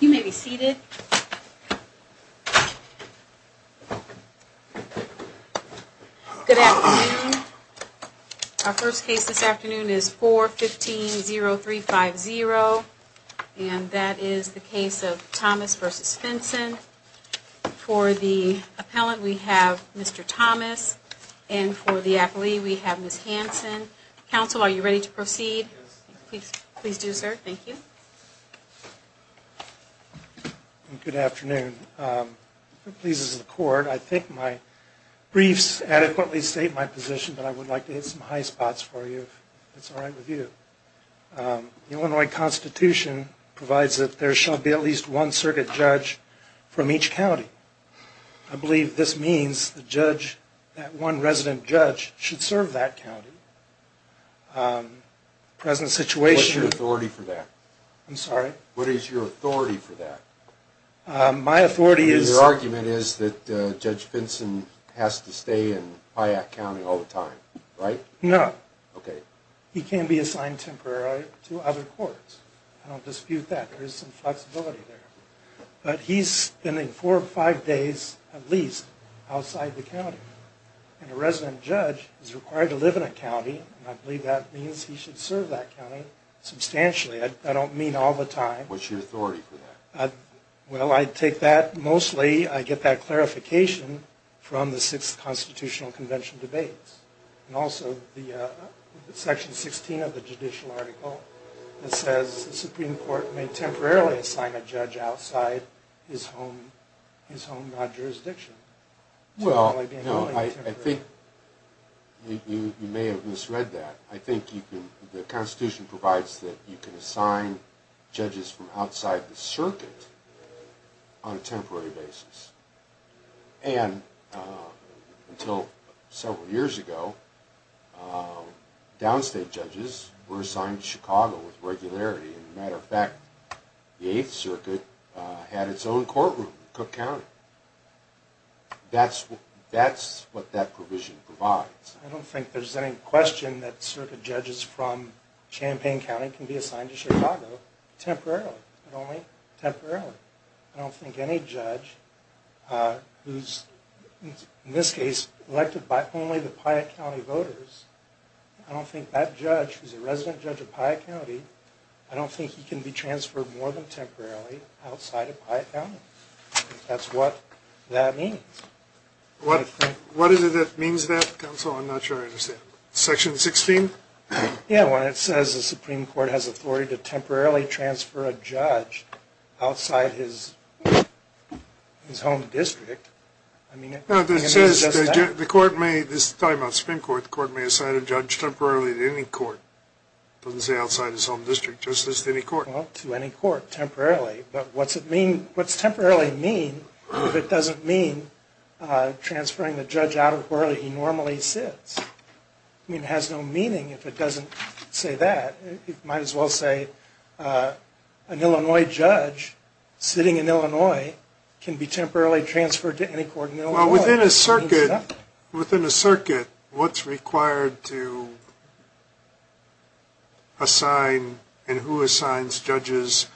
You may be seated. Good afternoon. Our first case this afternoon is 4-15-0-3-5-0 and that is the case of Thomas v. Finson. For the appellant we have Mr. Thomas and for the Please do, sir. Thank you. Good afternoon. If it pleases the court, I think my briefs adequately state my position, but I would like to hit some high spots for you if that's all right with you. The Illinois Constitution provides that there shall be at least one circuit judge from each county. I believe this means that one resident judge should serve that county. What is your authority for that? I'm sorry? What is your authority for that? My authority is... Your argument is that Judge Finson has to stay in Hyatt County all the time, right? No. Okay. He can be assigned temporarily to other courts. I don't dispute that. There is some flexibility there. But he's spending four or five days, at least, outside the county. And a resident judge is required to live in a county, and I believe that means he should serve that county substantially. I don't mean all the time. What's your authority for that? Well, I take that mostly, I get that clarification from the Sixth Constitutional Convention debates, and also the Section 16 of the judicial article that says the Supreme Court may temporarily assign a judge outside his home jurisdiction. Well, I think you may have misread that. The Constitution provides that you can assign judges from outside the circuit on a temporary basis. And until several years ago, downstate judges were assigned to Chicago with regularity. And as a matter of fact, the Eighth Circuit had its own courtroom in Cook County. That's what that provision provides. I don't think there's any question that circuit judges from Champaign County can be assigned to Chicago temporarily, only temporarily. I don't think any judge who's, in this case, elected by only the Piatt County voters, I don't think that judge, who's a resident judge of Piatt County, I don't think he can be transferred more than temporarily outside of Piatt County. That's what that means. What is it that means that, counsel? I'm not sure I understand. Section 16? Yeah, when it says the Supreme Court has authority to temporarily transfer a judge outside his home district. No, it says the court may, this is talking about the Supreme Court, the court may assign a judge temporarily to any court. It doesn't say outside his home district, just to any court. Temporarily. But what's temporarily mean if it doesn't mean transferring the judge out of where he normally sits? I mean, it has no meaning if it doesn't say that. It might as well say an Illinois judge sitting in Illinois can be temporarily transferred to any court in Illinois. Well, within a circuit, within a circuit, what's required to assign and who assigns judges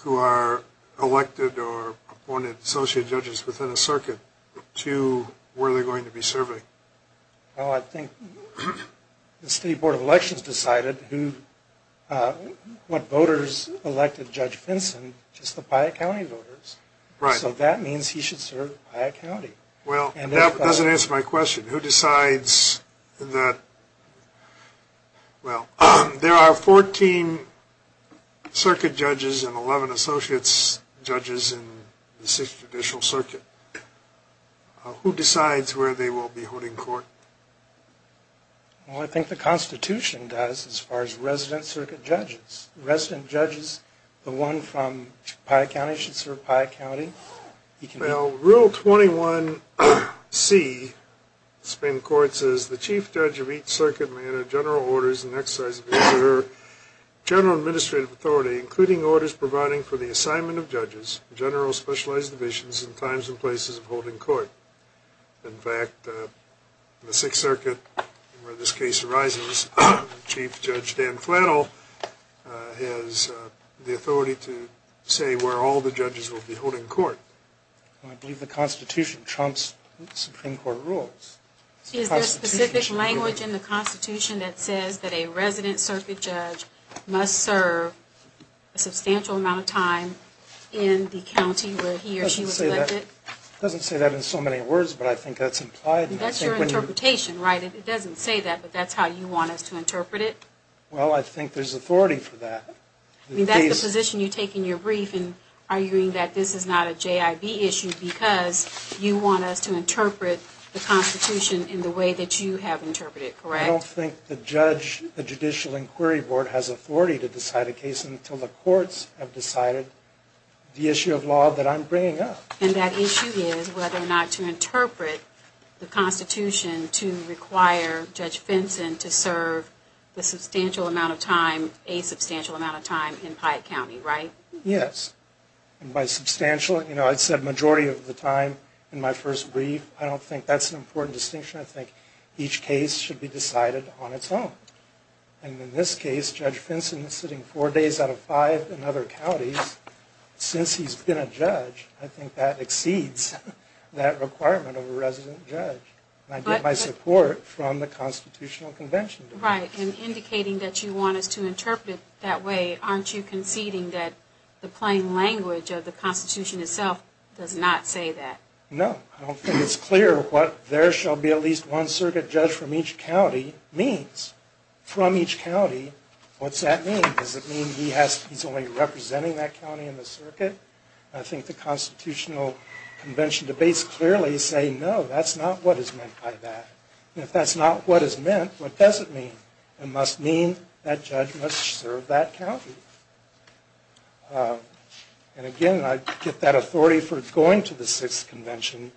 who are elected or appointed associate judges within a circuit to where they're going to be serving? Well, I think the State Board of Elections decided who, what voters elected Judge Finson, just the Piatt County voters, so that means he should serve Piatt County. Well, that doesn't answer my question. Who decides that, well, there are 14 circuit judges and 11 associates judges in the Sixth Judicial Circuit. Who decides where they will be holding court? Well, I think the Constitution does as far as resident circuit judges. Resident judges, the one from Piatt County should serve Piatt County. Well, Rule 21c of the Supreme Court says the chief judge of each circuit may enter general orders in exercise of his or her general administrative authority, including orders providing for the assignment of judges, general specialized divisions, and times and places of holding court. In fact, the Sixth Circuit, where this case arises, Chief Judge Dan Flannel has the authority to say where all the judges will be holding court. Well, I believe the Constitution trumps Supreme Court rules. Is there specific language in the Constitution that says that a resident circuit judge must serve a substantial amount of time in the county where he or she was elected? It doesn't say that in so many words, but I think that's implied. That's your interpretation, right? It doesn't say that, but that's how you want us to interpret it? Well, I think there's authority for that. I mean, that's the position you take in your brief in arguing that this is not a JIB issue because you want us to interpret the Constitution in the way that you have interpreted it, correct? I don't think the judge, the Judicial Inquiry Board, has authority to decide a case until the courts have decided the issue of law that I'm bringing up. And that issue is whether or not to interpret the Constitution to require Judge Fenson to serve a substantial amount of time in Piatt County, right? Yes. And by substantial, you know, I said majority of the time in my first brief. I don't think that's an important distinction. I think each case should be decided on its own. And in this case, Judge Fenson is sitting four days out of five in other counties. Since he's been a judge, I think that exceeds that requirement of a resident judge. And I get my support from the Constitutional Convention. Right. And indicating that you want us to interpret it that way, aren't you conceding that the plain language of the Constitution itself does not say that? No. I don't think it's clear what there shall be at least one circuit judge from each county means. From each county, what's that mean? Does it mean he's only representing that county in the circuit? I think the Constitutional Convention debates clearly say no, that's not what is meant by that. And if that's not what is meant, what does it mean? It must mean that judge must serve that county. And again, I get that authority for going to the Sixth Convention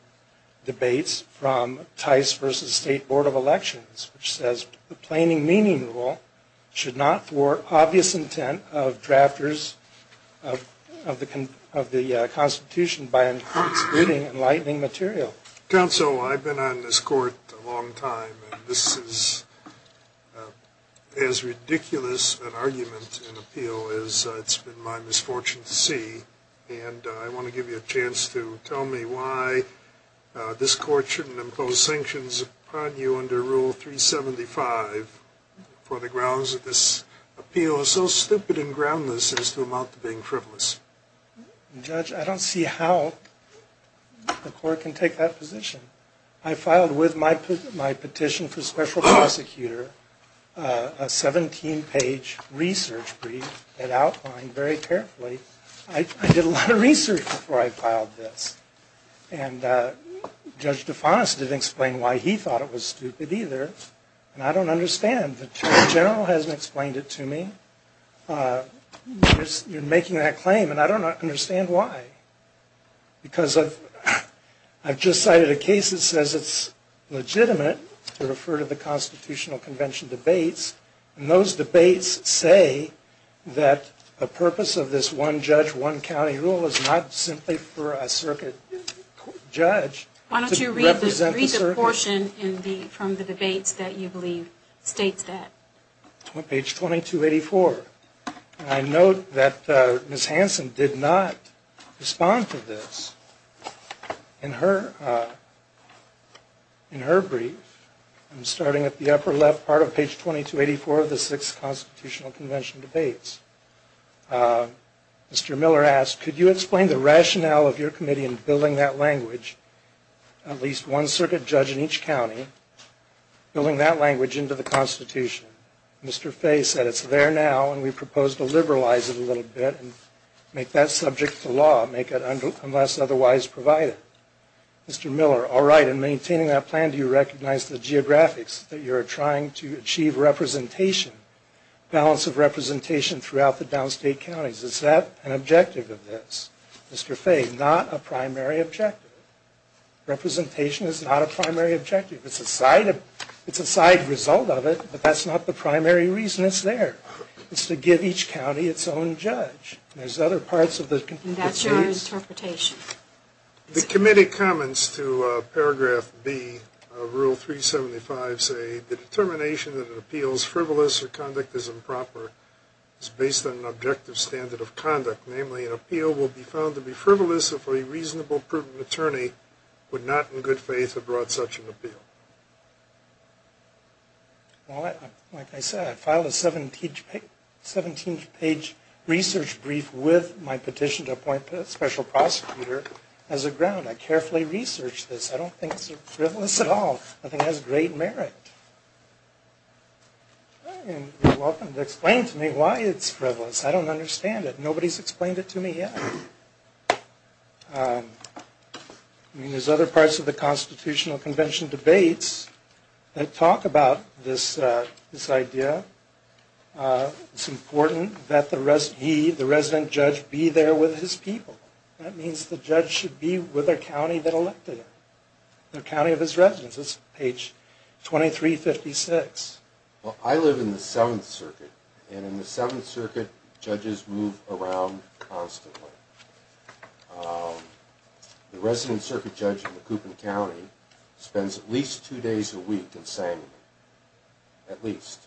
debates from Tice v. State Board of Elections, which says the plaining meaning rule should not thwart obvious intent of drafters of the Constitution by including enlightening material. Counsel, I've been on this court a long time, and this is as ridiculous an argument in appeal as it's been my misfortune to see. And I want to give you a chance to tell me why this court shouldn't impose sanctions upon you under Rule 375 for the grounds that this appeal is so stupid and groundless as to amount to being frivolous. Judge, I don't see how the court can take that position. I filed with my petition for special prosecutor a 17-page research brief that outlined very carefully. I did a lot of research before I filed this. And Judge DeFonis didn't explain why he thought it was stupid either, and I don't understand. The judge general hasn't explained it to me. You're making that claim, and I don't understand why. Because I've just cited a case that says it's legitimate to refer to the Constitutional Convention debates, and those debates say that the purpose of this one-judge, one-county rule is not simply for a circuit judge to represent the circuit. Why don't you read the portion from the debates that you believe states that? Page 2284. And I note that Ms. Hanson did not respond to this. In her brief, starting at the upper left part of page 2284 of the Sixth Constitutional Convention debates, Mr. Miller asked, Could you explain the rationale of your committee in building that language, at least one circuit judge in each county, building that language into the Constitution? Mr. Fay said, It's there now, and we propose to liberalize it a little bit and make that subject to law, make it unless otherwise provided. Mr. Miller, All right, in maintaining that plan, do you recognize the geographics that you're trying to achieve representation, balance of representation throughout the downstate counties? Is that an objective of this? Mr. Fay, Not a primary objective. Representation is not a primary objective. It's a side result of it, but that's not the primary reason it's there. It's to give each county its own judge. There's other parts of the And that's your interpretation. The committee comments to Paragraph B of Rule 375 say, The determination that an appeal is frivolous or conduct is improper is based on an objective standard of conduct, namely an appeal will be found to be frivolous if a reasonable, prudent attorney would not in good faith have brought such an appeal. Well, like I said, I filed a 17-page research brief with my petition to appoint a special prosecutor as a ground. I carefully researched this. I don't think it's frivolous at all. I think it has great merit. And you're welcome to explain to me why it's frivolous. I don't understand it. Nobody's explained it to me yet. I mean, there's other parts of the Constitutional Convention debates that talk about this idea. It's important that he, the resident judge, be there with his people. That means the judge should be with the county that elected him, the county of his residence. That's page 2356. Well, I live in the Seventh Circuit, and in the Seventh Circuit, judges move around constantly. The resident circuit judge in the Coupon County spends at least two days a week in Samuel. At least.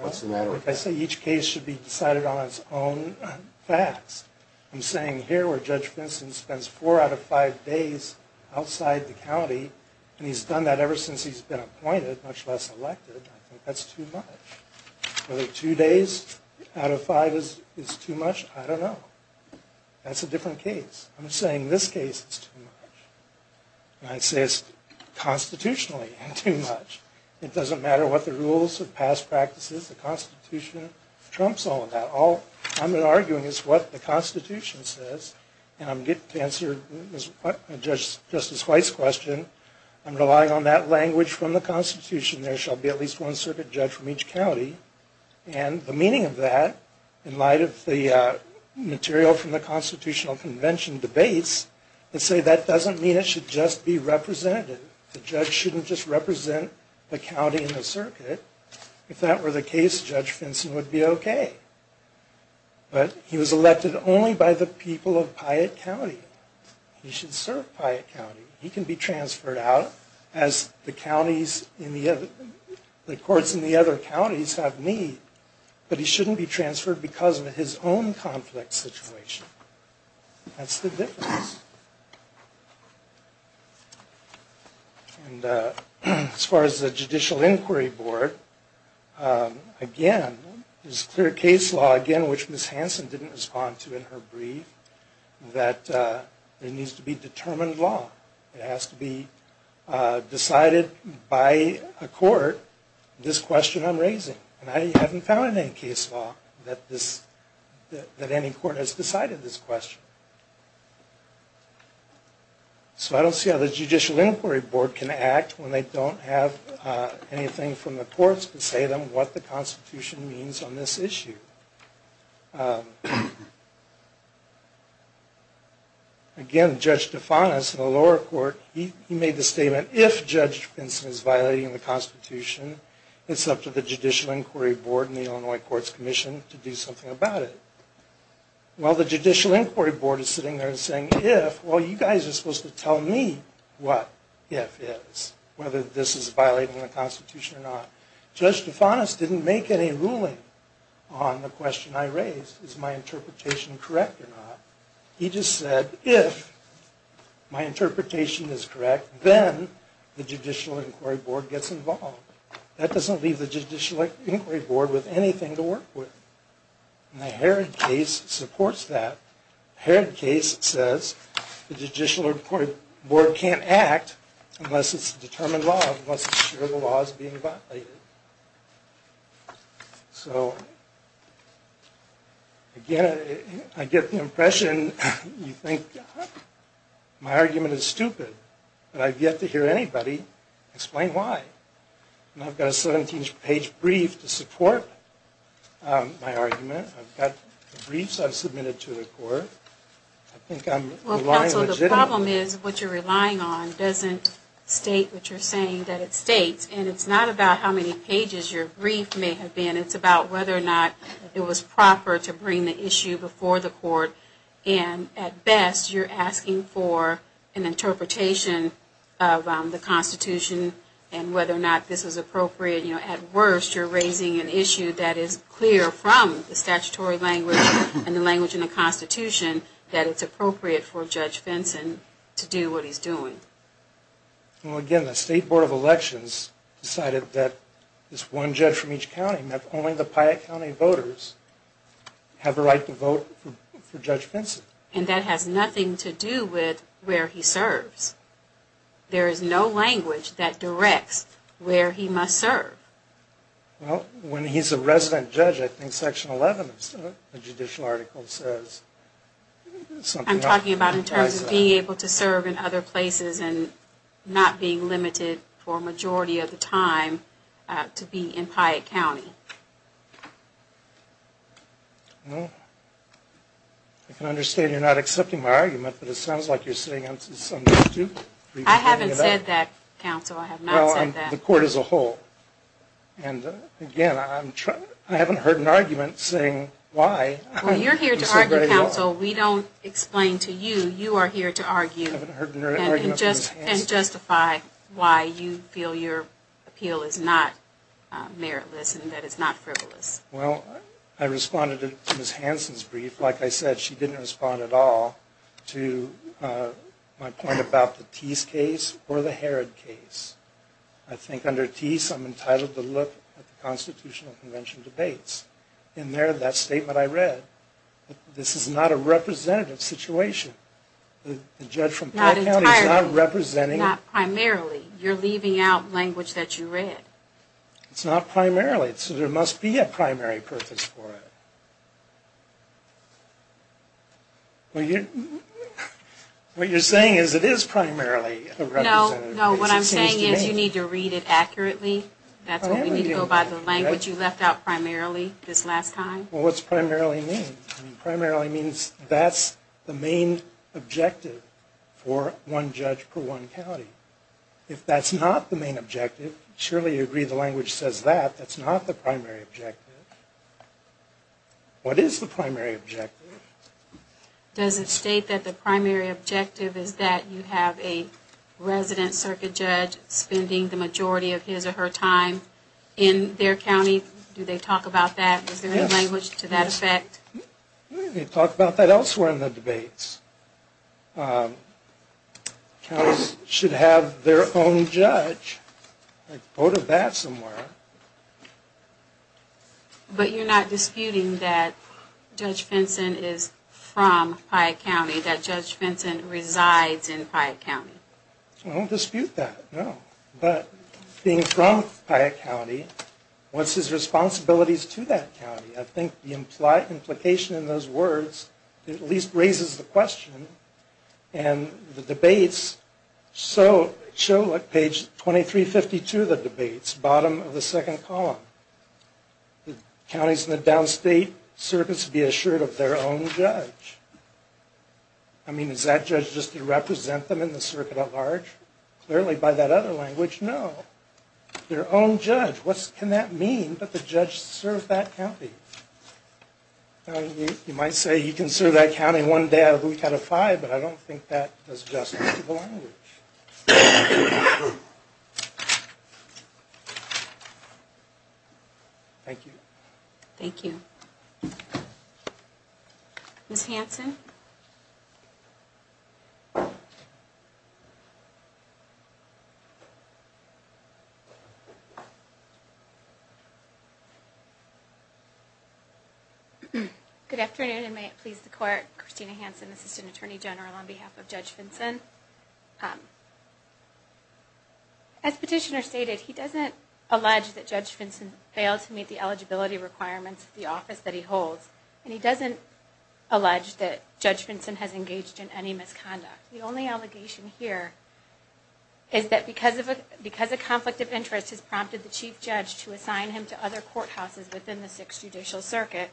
What's the matter with that? I say each case should be decided on its own facts. I'm saying here where Judge Vincent spends four out of five days outside the county, and he's done that ever since he's been appointed, much less elected, I think that's too much. Whether two days out of five is too much, I don't know. That's a different case. I'm saying this case is too much. And I say it's constitutionally too much. It doesn't matter what the rules of past practices, the Constitution trumps all of that. All I'm arguing is what the Constitution says, and I'm getting to answer Justice White's question. I'm relying on that language from the Constitution. There shall be at least one circuit judge from each county. And the meaning of that, in light of the material from the Constitutional Convention debates, is to say that doesn't mean it should just be representative. If that were the case, Judge Vincent would be okay. But he was elected only by the people of Piatt County. He should serve Piatt County. He can be transferred out as the courts in the other counties have need, but he shouldn't be transferred because of his own conflict situation. That's the difference. And as far as the Judicial Inquiry Board, again, there's clear case law, again, which Ms. Hanson didn't respond to in her brief, that there needs to be determined law. It has to be decided by a court this question I'm raising. And I haven't found any case law that any court has decided this question. So I don't see how the Judicial Inquiry Board can act when they don't have anything from the courts to say to them what the Constitution means on this issue. Again, Judge DeFanis in the lower court, he made the statement, if Judge Vincent is violating the Constitution, it's up to the Judicial Inquiry Board and the Illinois Courts Commission to do something about it. Well, the Judicial Inquiry Board is sitting there and saying, if, well, you guys are supposed to tell me what if is, whether this is violating the Constitution or not. Judge DeFanis didn't make any ruling on the question I raised, is my interpretation correct or not. He just said, if my interpretation is correct, then the Judicial Inquiry Board gets involved. That doesn't leave the Judicial Inquiry Board with anything to work with. And the Herod case supports that. The Herod case says the Judicial Inquiry Board can't act unless it's determined law, unless it's sure the law is being violated. So, again, I get the impression you think my argument is stupid. But I've yet to hear anybody explain why. And I've got a 17-page brief to support my argument. I've got the briefs I've submitted to the court. I think I'm relying legitimately. Well, counsel, the problem is what you're relying on doesn't state what you're saying that it states. And it's not about how many pages your brief may have been. It's about whether or not it was proper to bring the issue before the court. And, at best, you're asking for an interpretation of the Constitution and whether or not this is appropriate. At worst, you're raising an issue that is clear from the statutory language and the language in the Constitution that it's appropriate for Judge Fenson to do what he's doing. Well, again, the State Board of Elections decided that it's one judge from each county and that only the Piatt County voters have a right to vote for Judge Fenson. And that has nothing to do with where he serves. There is no language that directs where he must serve. Well, when he's a resident judge, I think Section 11 of the judicial article says something else. I'm talking about in terms of being able to serve in other places and not being limited for a majority of the time to be in Piatt County. Well, I can understand you're not accepting my argument, but it sounds like you're sitting on some dispute. I haven't said that, counsel. I have not said that. Well, the court as a whole. And, again, I haven't heard an argument saying why. Well, you're here to argue, counsel. We don't explain to you. You are here to argue and justify why you feel your appeal is not meritless and that it's not frivolous. Well, I responded to Ms. Hansen's brief. Like I said, she didn't respond at all to my point about the Tease case or the Herod case. I think under Tease, I'm entitled to look at the Constitutional Convention debates. And there, that statement I read, this is not a representative situation. The judge from Piatt County is not representing. Not entirely. Not primarily. You're leaving out language that you read. It's not primarily. So there must be a primary purpose for it. What you're saying is it is primarily a representative. No, no. What I'm saying is you need to read it accurately. That's what we need to go by the language you left out primarily this last time. Well, what's primarily mean? Primarily means that's the main objective for one judge per one county. If that's not the main objective, surely you agree the language says that. That's not the primary objective. What is the primary objective? Does it state that the primary objective is that you have a resident circuit judge spending the majority of his or her time in their county? Do they talk about that? Is there any language to that effect? They talk about that elsewhere in the debates. Counties should have their own judge. A quote of that somewhere. But you're not disputing that Judge Vinson is from Piatt County, that Judge Vinson resides in Piatt County? I don't dispute that, no. But being from Piatt County, what's his responsibilities to that county? I think the implication in those words at least raises the question. And the debates show, like page 2352 of the debates, bottom of the second column. Counties in the downstate circuits be assured of their own judge. I mean, is that judge just to represent them in the circuit at large? Clearly by that other language, no. Their own judge. What can that mean that the judge serves that county? You might say he can serve that county one day out of the week out of five, but I don't think that does justice to the language. Thank you. Thank you. Ms. Hanson? Christina Hanson, Assistant Attorney General on behalf of Judge Vinson. As Petitioner stated, he doesn't allege that Judge Vinson failed to meet the eligibility requirements of the office that he holds, and he doesn't allege that Judge Vinson has engaged in any misconduct. The only allegation here is that because a conflict of interest has prompted the Chief Judge to assign him to other courthouses within the Sixth Judicial Circuit,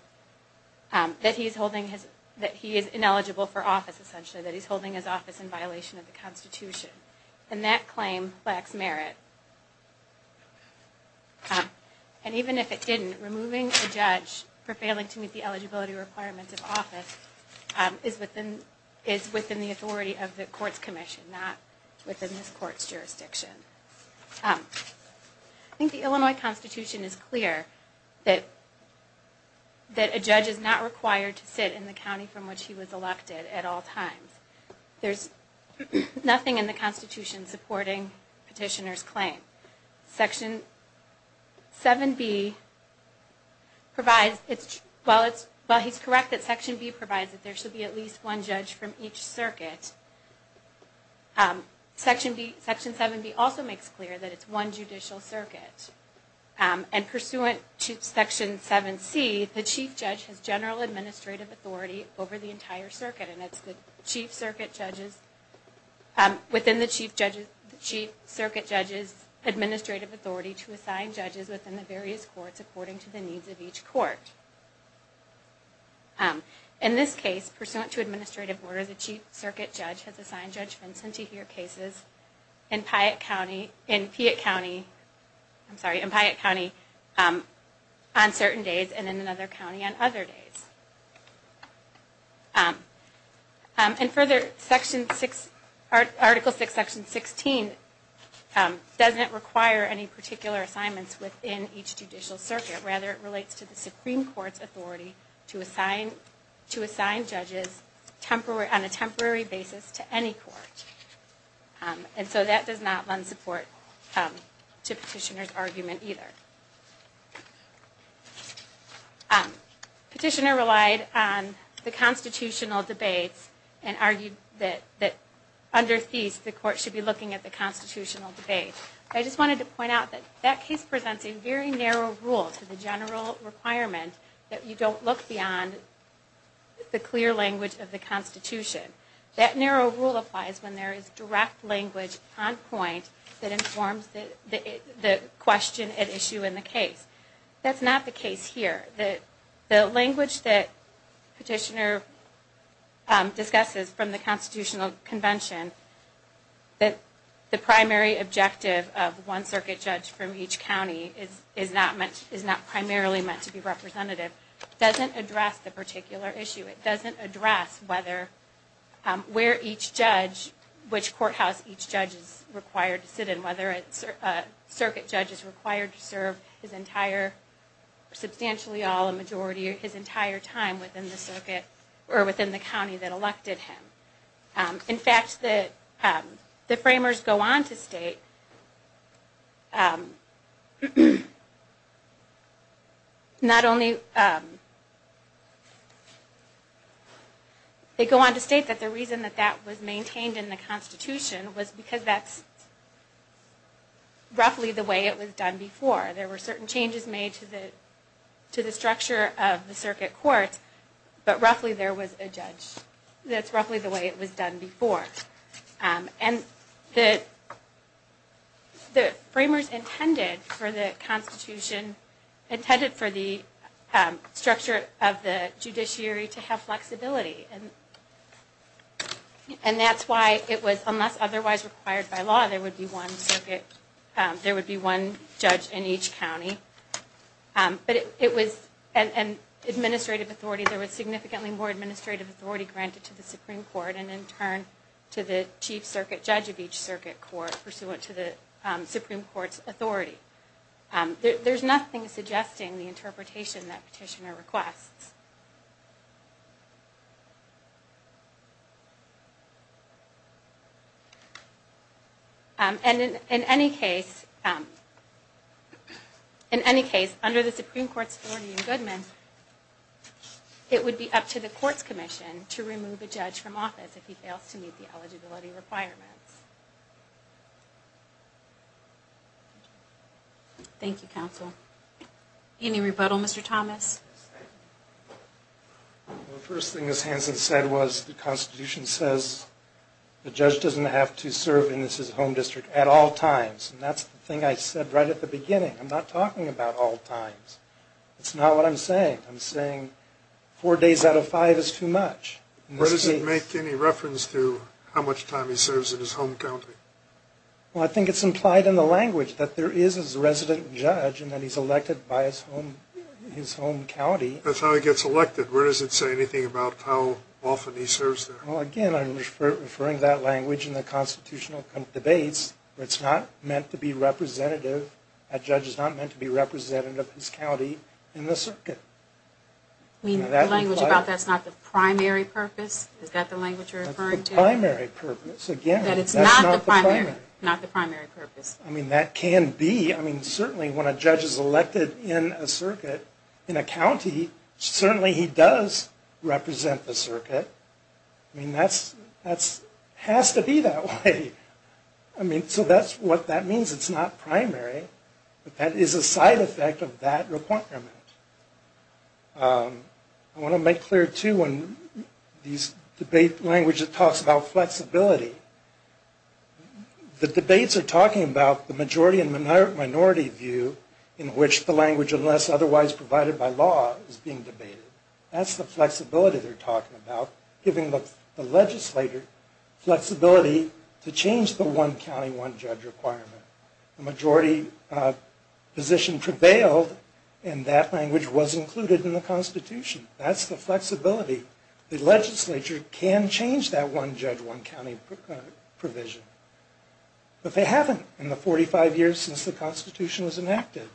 that he is ineligible for office, essentially, that he's holding his office in violation of the Constitution. And that claim lacks merit. And even if it didn't, removing a judge for failing to meet the eligibility requirements of office is within the authority of the courts commission, not within this court's jurisdiction. I think the Illinois Constitution is clear that a judge is not required to sit in the county from which he was elected at all times. There's nothing in the Constitution supporting Petitioner's claim. Section 7B provides, well, he's correct that Section B provides that there should be at least one judge from each circuit. And Section 7B also makes clear that it's one judicial circuit. And pursuant to Section 7C, the Chief Judge has general administrative authority over the entire circuit, and it's within the Chief Circuit Judge's administrative authority to assign judges within the various courts according to the needs of each court. In this case, pursuant to administrative order, the Chief Circuit Judge has assigned Judge Vincent to hear cases in Piatt County on certain days, and in another county on other days. And further, Article VI, Section 16, doesn't require any particular assignments within each judicial circuit. Rather, it relates to the Supreme Court's authority to assign judges on a temporary basis to any court. And so that does not lend support to Petitioner's argument either. Petitioner relied on the constitutional debates and argued that under these, the court should be looking at the constitutional debates. I just wanted to point out that that case presents a very narrow rule to the general requirement that you don't look beyond the clear language of the Constitution. That narrow rule applies when there is direct language on point that informs the question at issue in the case. That's not the case here. The language that Petitioner discusses from the Constitutional Convention, that the primary objective of one Circuit Judge from each county is not primarily meant to be representative, doesn't address the particular issue. It doesn't address whether, where each judge, which courthouse each judge is required to sit in, whether a Circuit Judge is required to serve his entire, substantially all, a majority of his entire time within the circuit, or within the county that elected him. In fact, the framers go on to state, they go on to state that the reason that that was maintained in the Constitution was because that's roughly the way it was done before. There were certain changes made to the structure of the Circuit Court, but roughly there was a judge. That's roughly the way it was done before. And the framers intended for the Constitution, intended for the structure of the judiciary to have flexibility. And that's why it was, unless otherwise required by law, there would be one circuit, there would be one judge in each county. But it was, and administrative authority, there was significantly more administrative authority granted to the Supreme Court, and in turn to the Chief Circuit Judge of each circuit court, pursuant to the Supreme Court's authority. There's nothing suggesting the interpretation that petitioner requests. And in any case, under the Supreme Court's authority in Goodman, it would be up to the Courts Commission to remove a judge from office if he fails to meet the eligibility requirements. Thank you, Counsel. Any rebuttal, Mr. Thomas? The first thing, as Hanson said, was the Constitution says the judge doesn't have to serve in his home district at all times. And that's the thing I said right at the beginning. I'm not talking about all times. It's not what I'm saying. I'm saying four days out of five is too much. Where does it make any reference to how much time he serves in his home county? Well, I think it's implied in the language that there is a resident judge and that he's elected by his home county. That's how he gets elected. Where does it say anything about how often he serves there? Well, again, I'm referring to that language in the constitutional debates. It's not meant to be representative. A judge is not meant to be representative of his county in the circuit. You mean the language about that's not the primary purpose? Is that the language you're referring to? The primary purpose. Again, that's not the primary. Not the primary purpose. I mean, that can be. I mean, certainly when a judge is elected in a circuit, in a county, certainly he does represent the circuit. I mean, that has to be that way. I mean, so that's what that means. It's not primary. But that is a side effect of that requirement. I want to make clear, too, in this debate language, it talks about flexibility. The debates are talking about the majority and minority view in which the language, unless otherwise provided by law, is being debated. That's the flexibility they're talking about, giving the legislator flexibility to change the one county, one judge requirement. The majority position prevailed, and that language was included in the Constitution. That's the flexibility. The legislature can change that one judge, one county provision. But they haven't in the 45 years since the Constitution was enacted.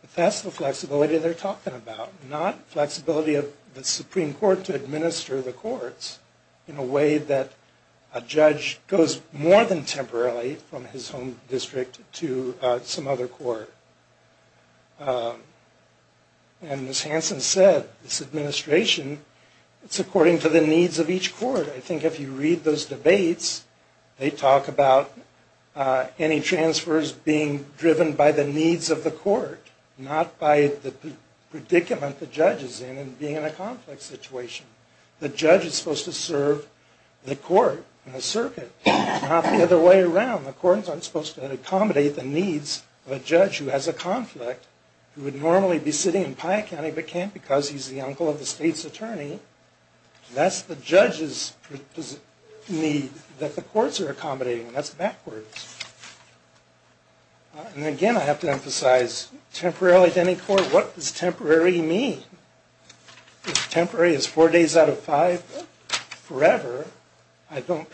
But that's the flexibility they're talking about, not flexibility of the Supreme Court to administer the courts in a way that a judge goes more than temporarily from his home district to some other court. And as Hanson said, this administration, it's according to the needs of each court. I think if you read those debates, they talk about any transfers being driven by the needs of the court, not by the predicament the judge is in and being in a complex situation. The judge is supposed to serve the court and the circuit, not the other way around. And the courts aren't supposed to accommodate the needs of a judge who has a conflict, who would normally be sitting in Piah County but can't because he's the uncle of the state's attorney. That's the judge's need that the courts are accommodating, and that's backwards. And again, I have to emphasize, temporarily to any court, what does temporary mean? If temporary is four days out of five forever, I don't...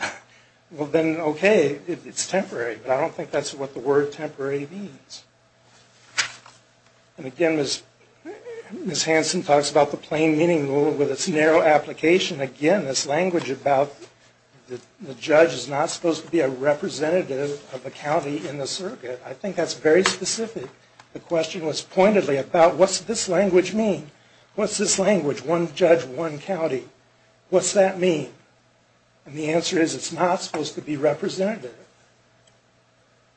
Well then, okay, it's temporary, but I don't think that's what the word temporary means. And again, Ms. Hanson talks about the plain meaning rule with its narrow application. Again, this language about the judge is not supposed to be a representative of the county in the circuit, I think that's very specific. The question was pointedly about what's this language mean? What's this language, one judge, one county? What's that mean? And the answer is it's not supposed to be representative.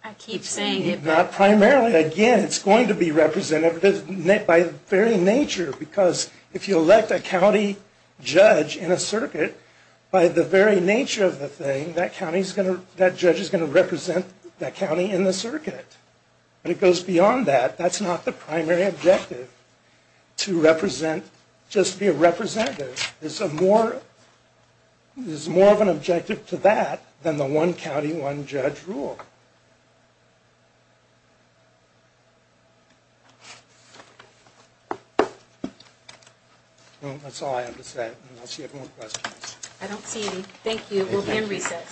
I keep saying it, but... Not primarily. Again, it's going to be representative by very nature because if you elect a county judge in a circuit, by the very nature of the thing, that judge is going to represent that county in the circuit. And it goes beyond that. That's not the primary objective, to represent, just be a representative. There's more of an objective to that than the one county, one judge rule. Well, that's all I have to say, unless you have more questions. I don't see any. Thank you. We'll be in recess.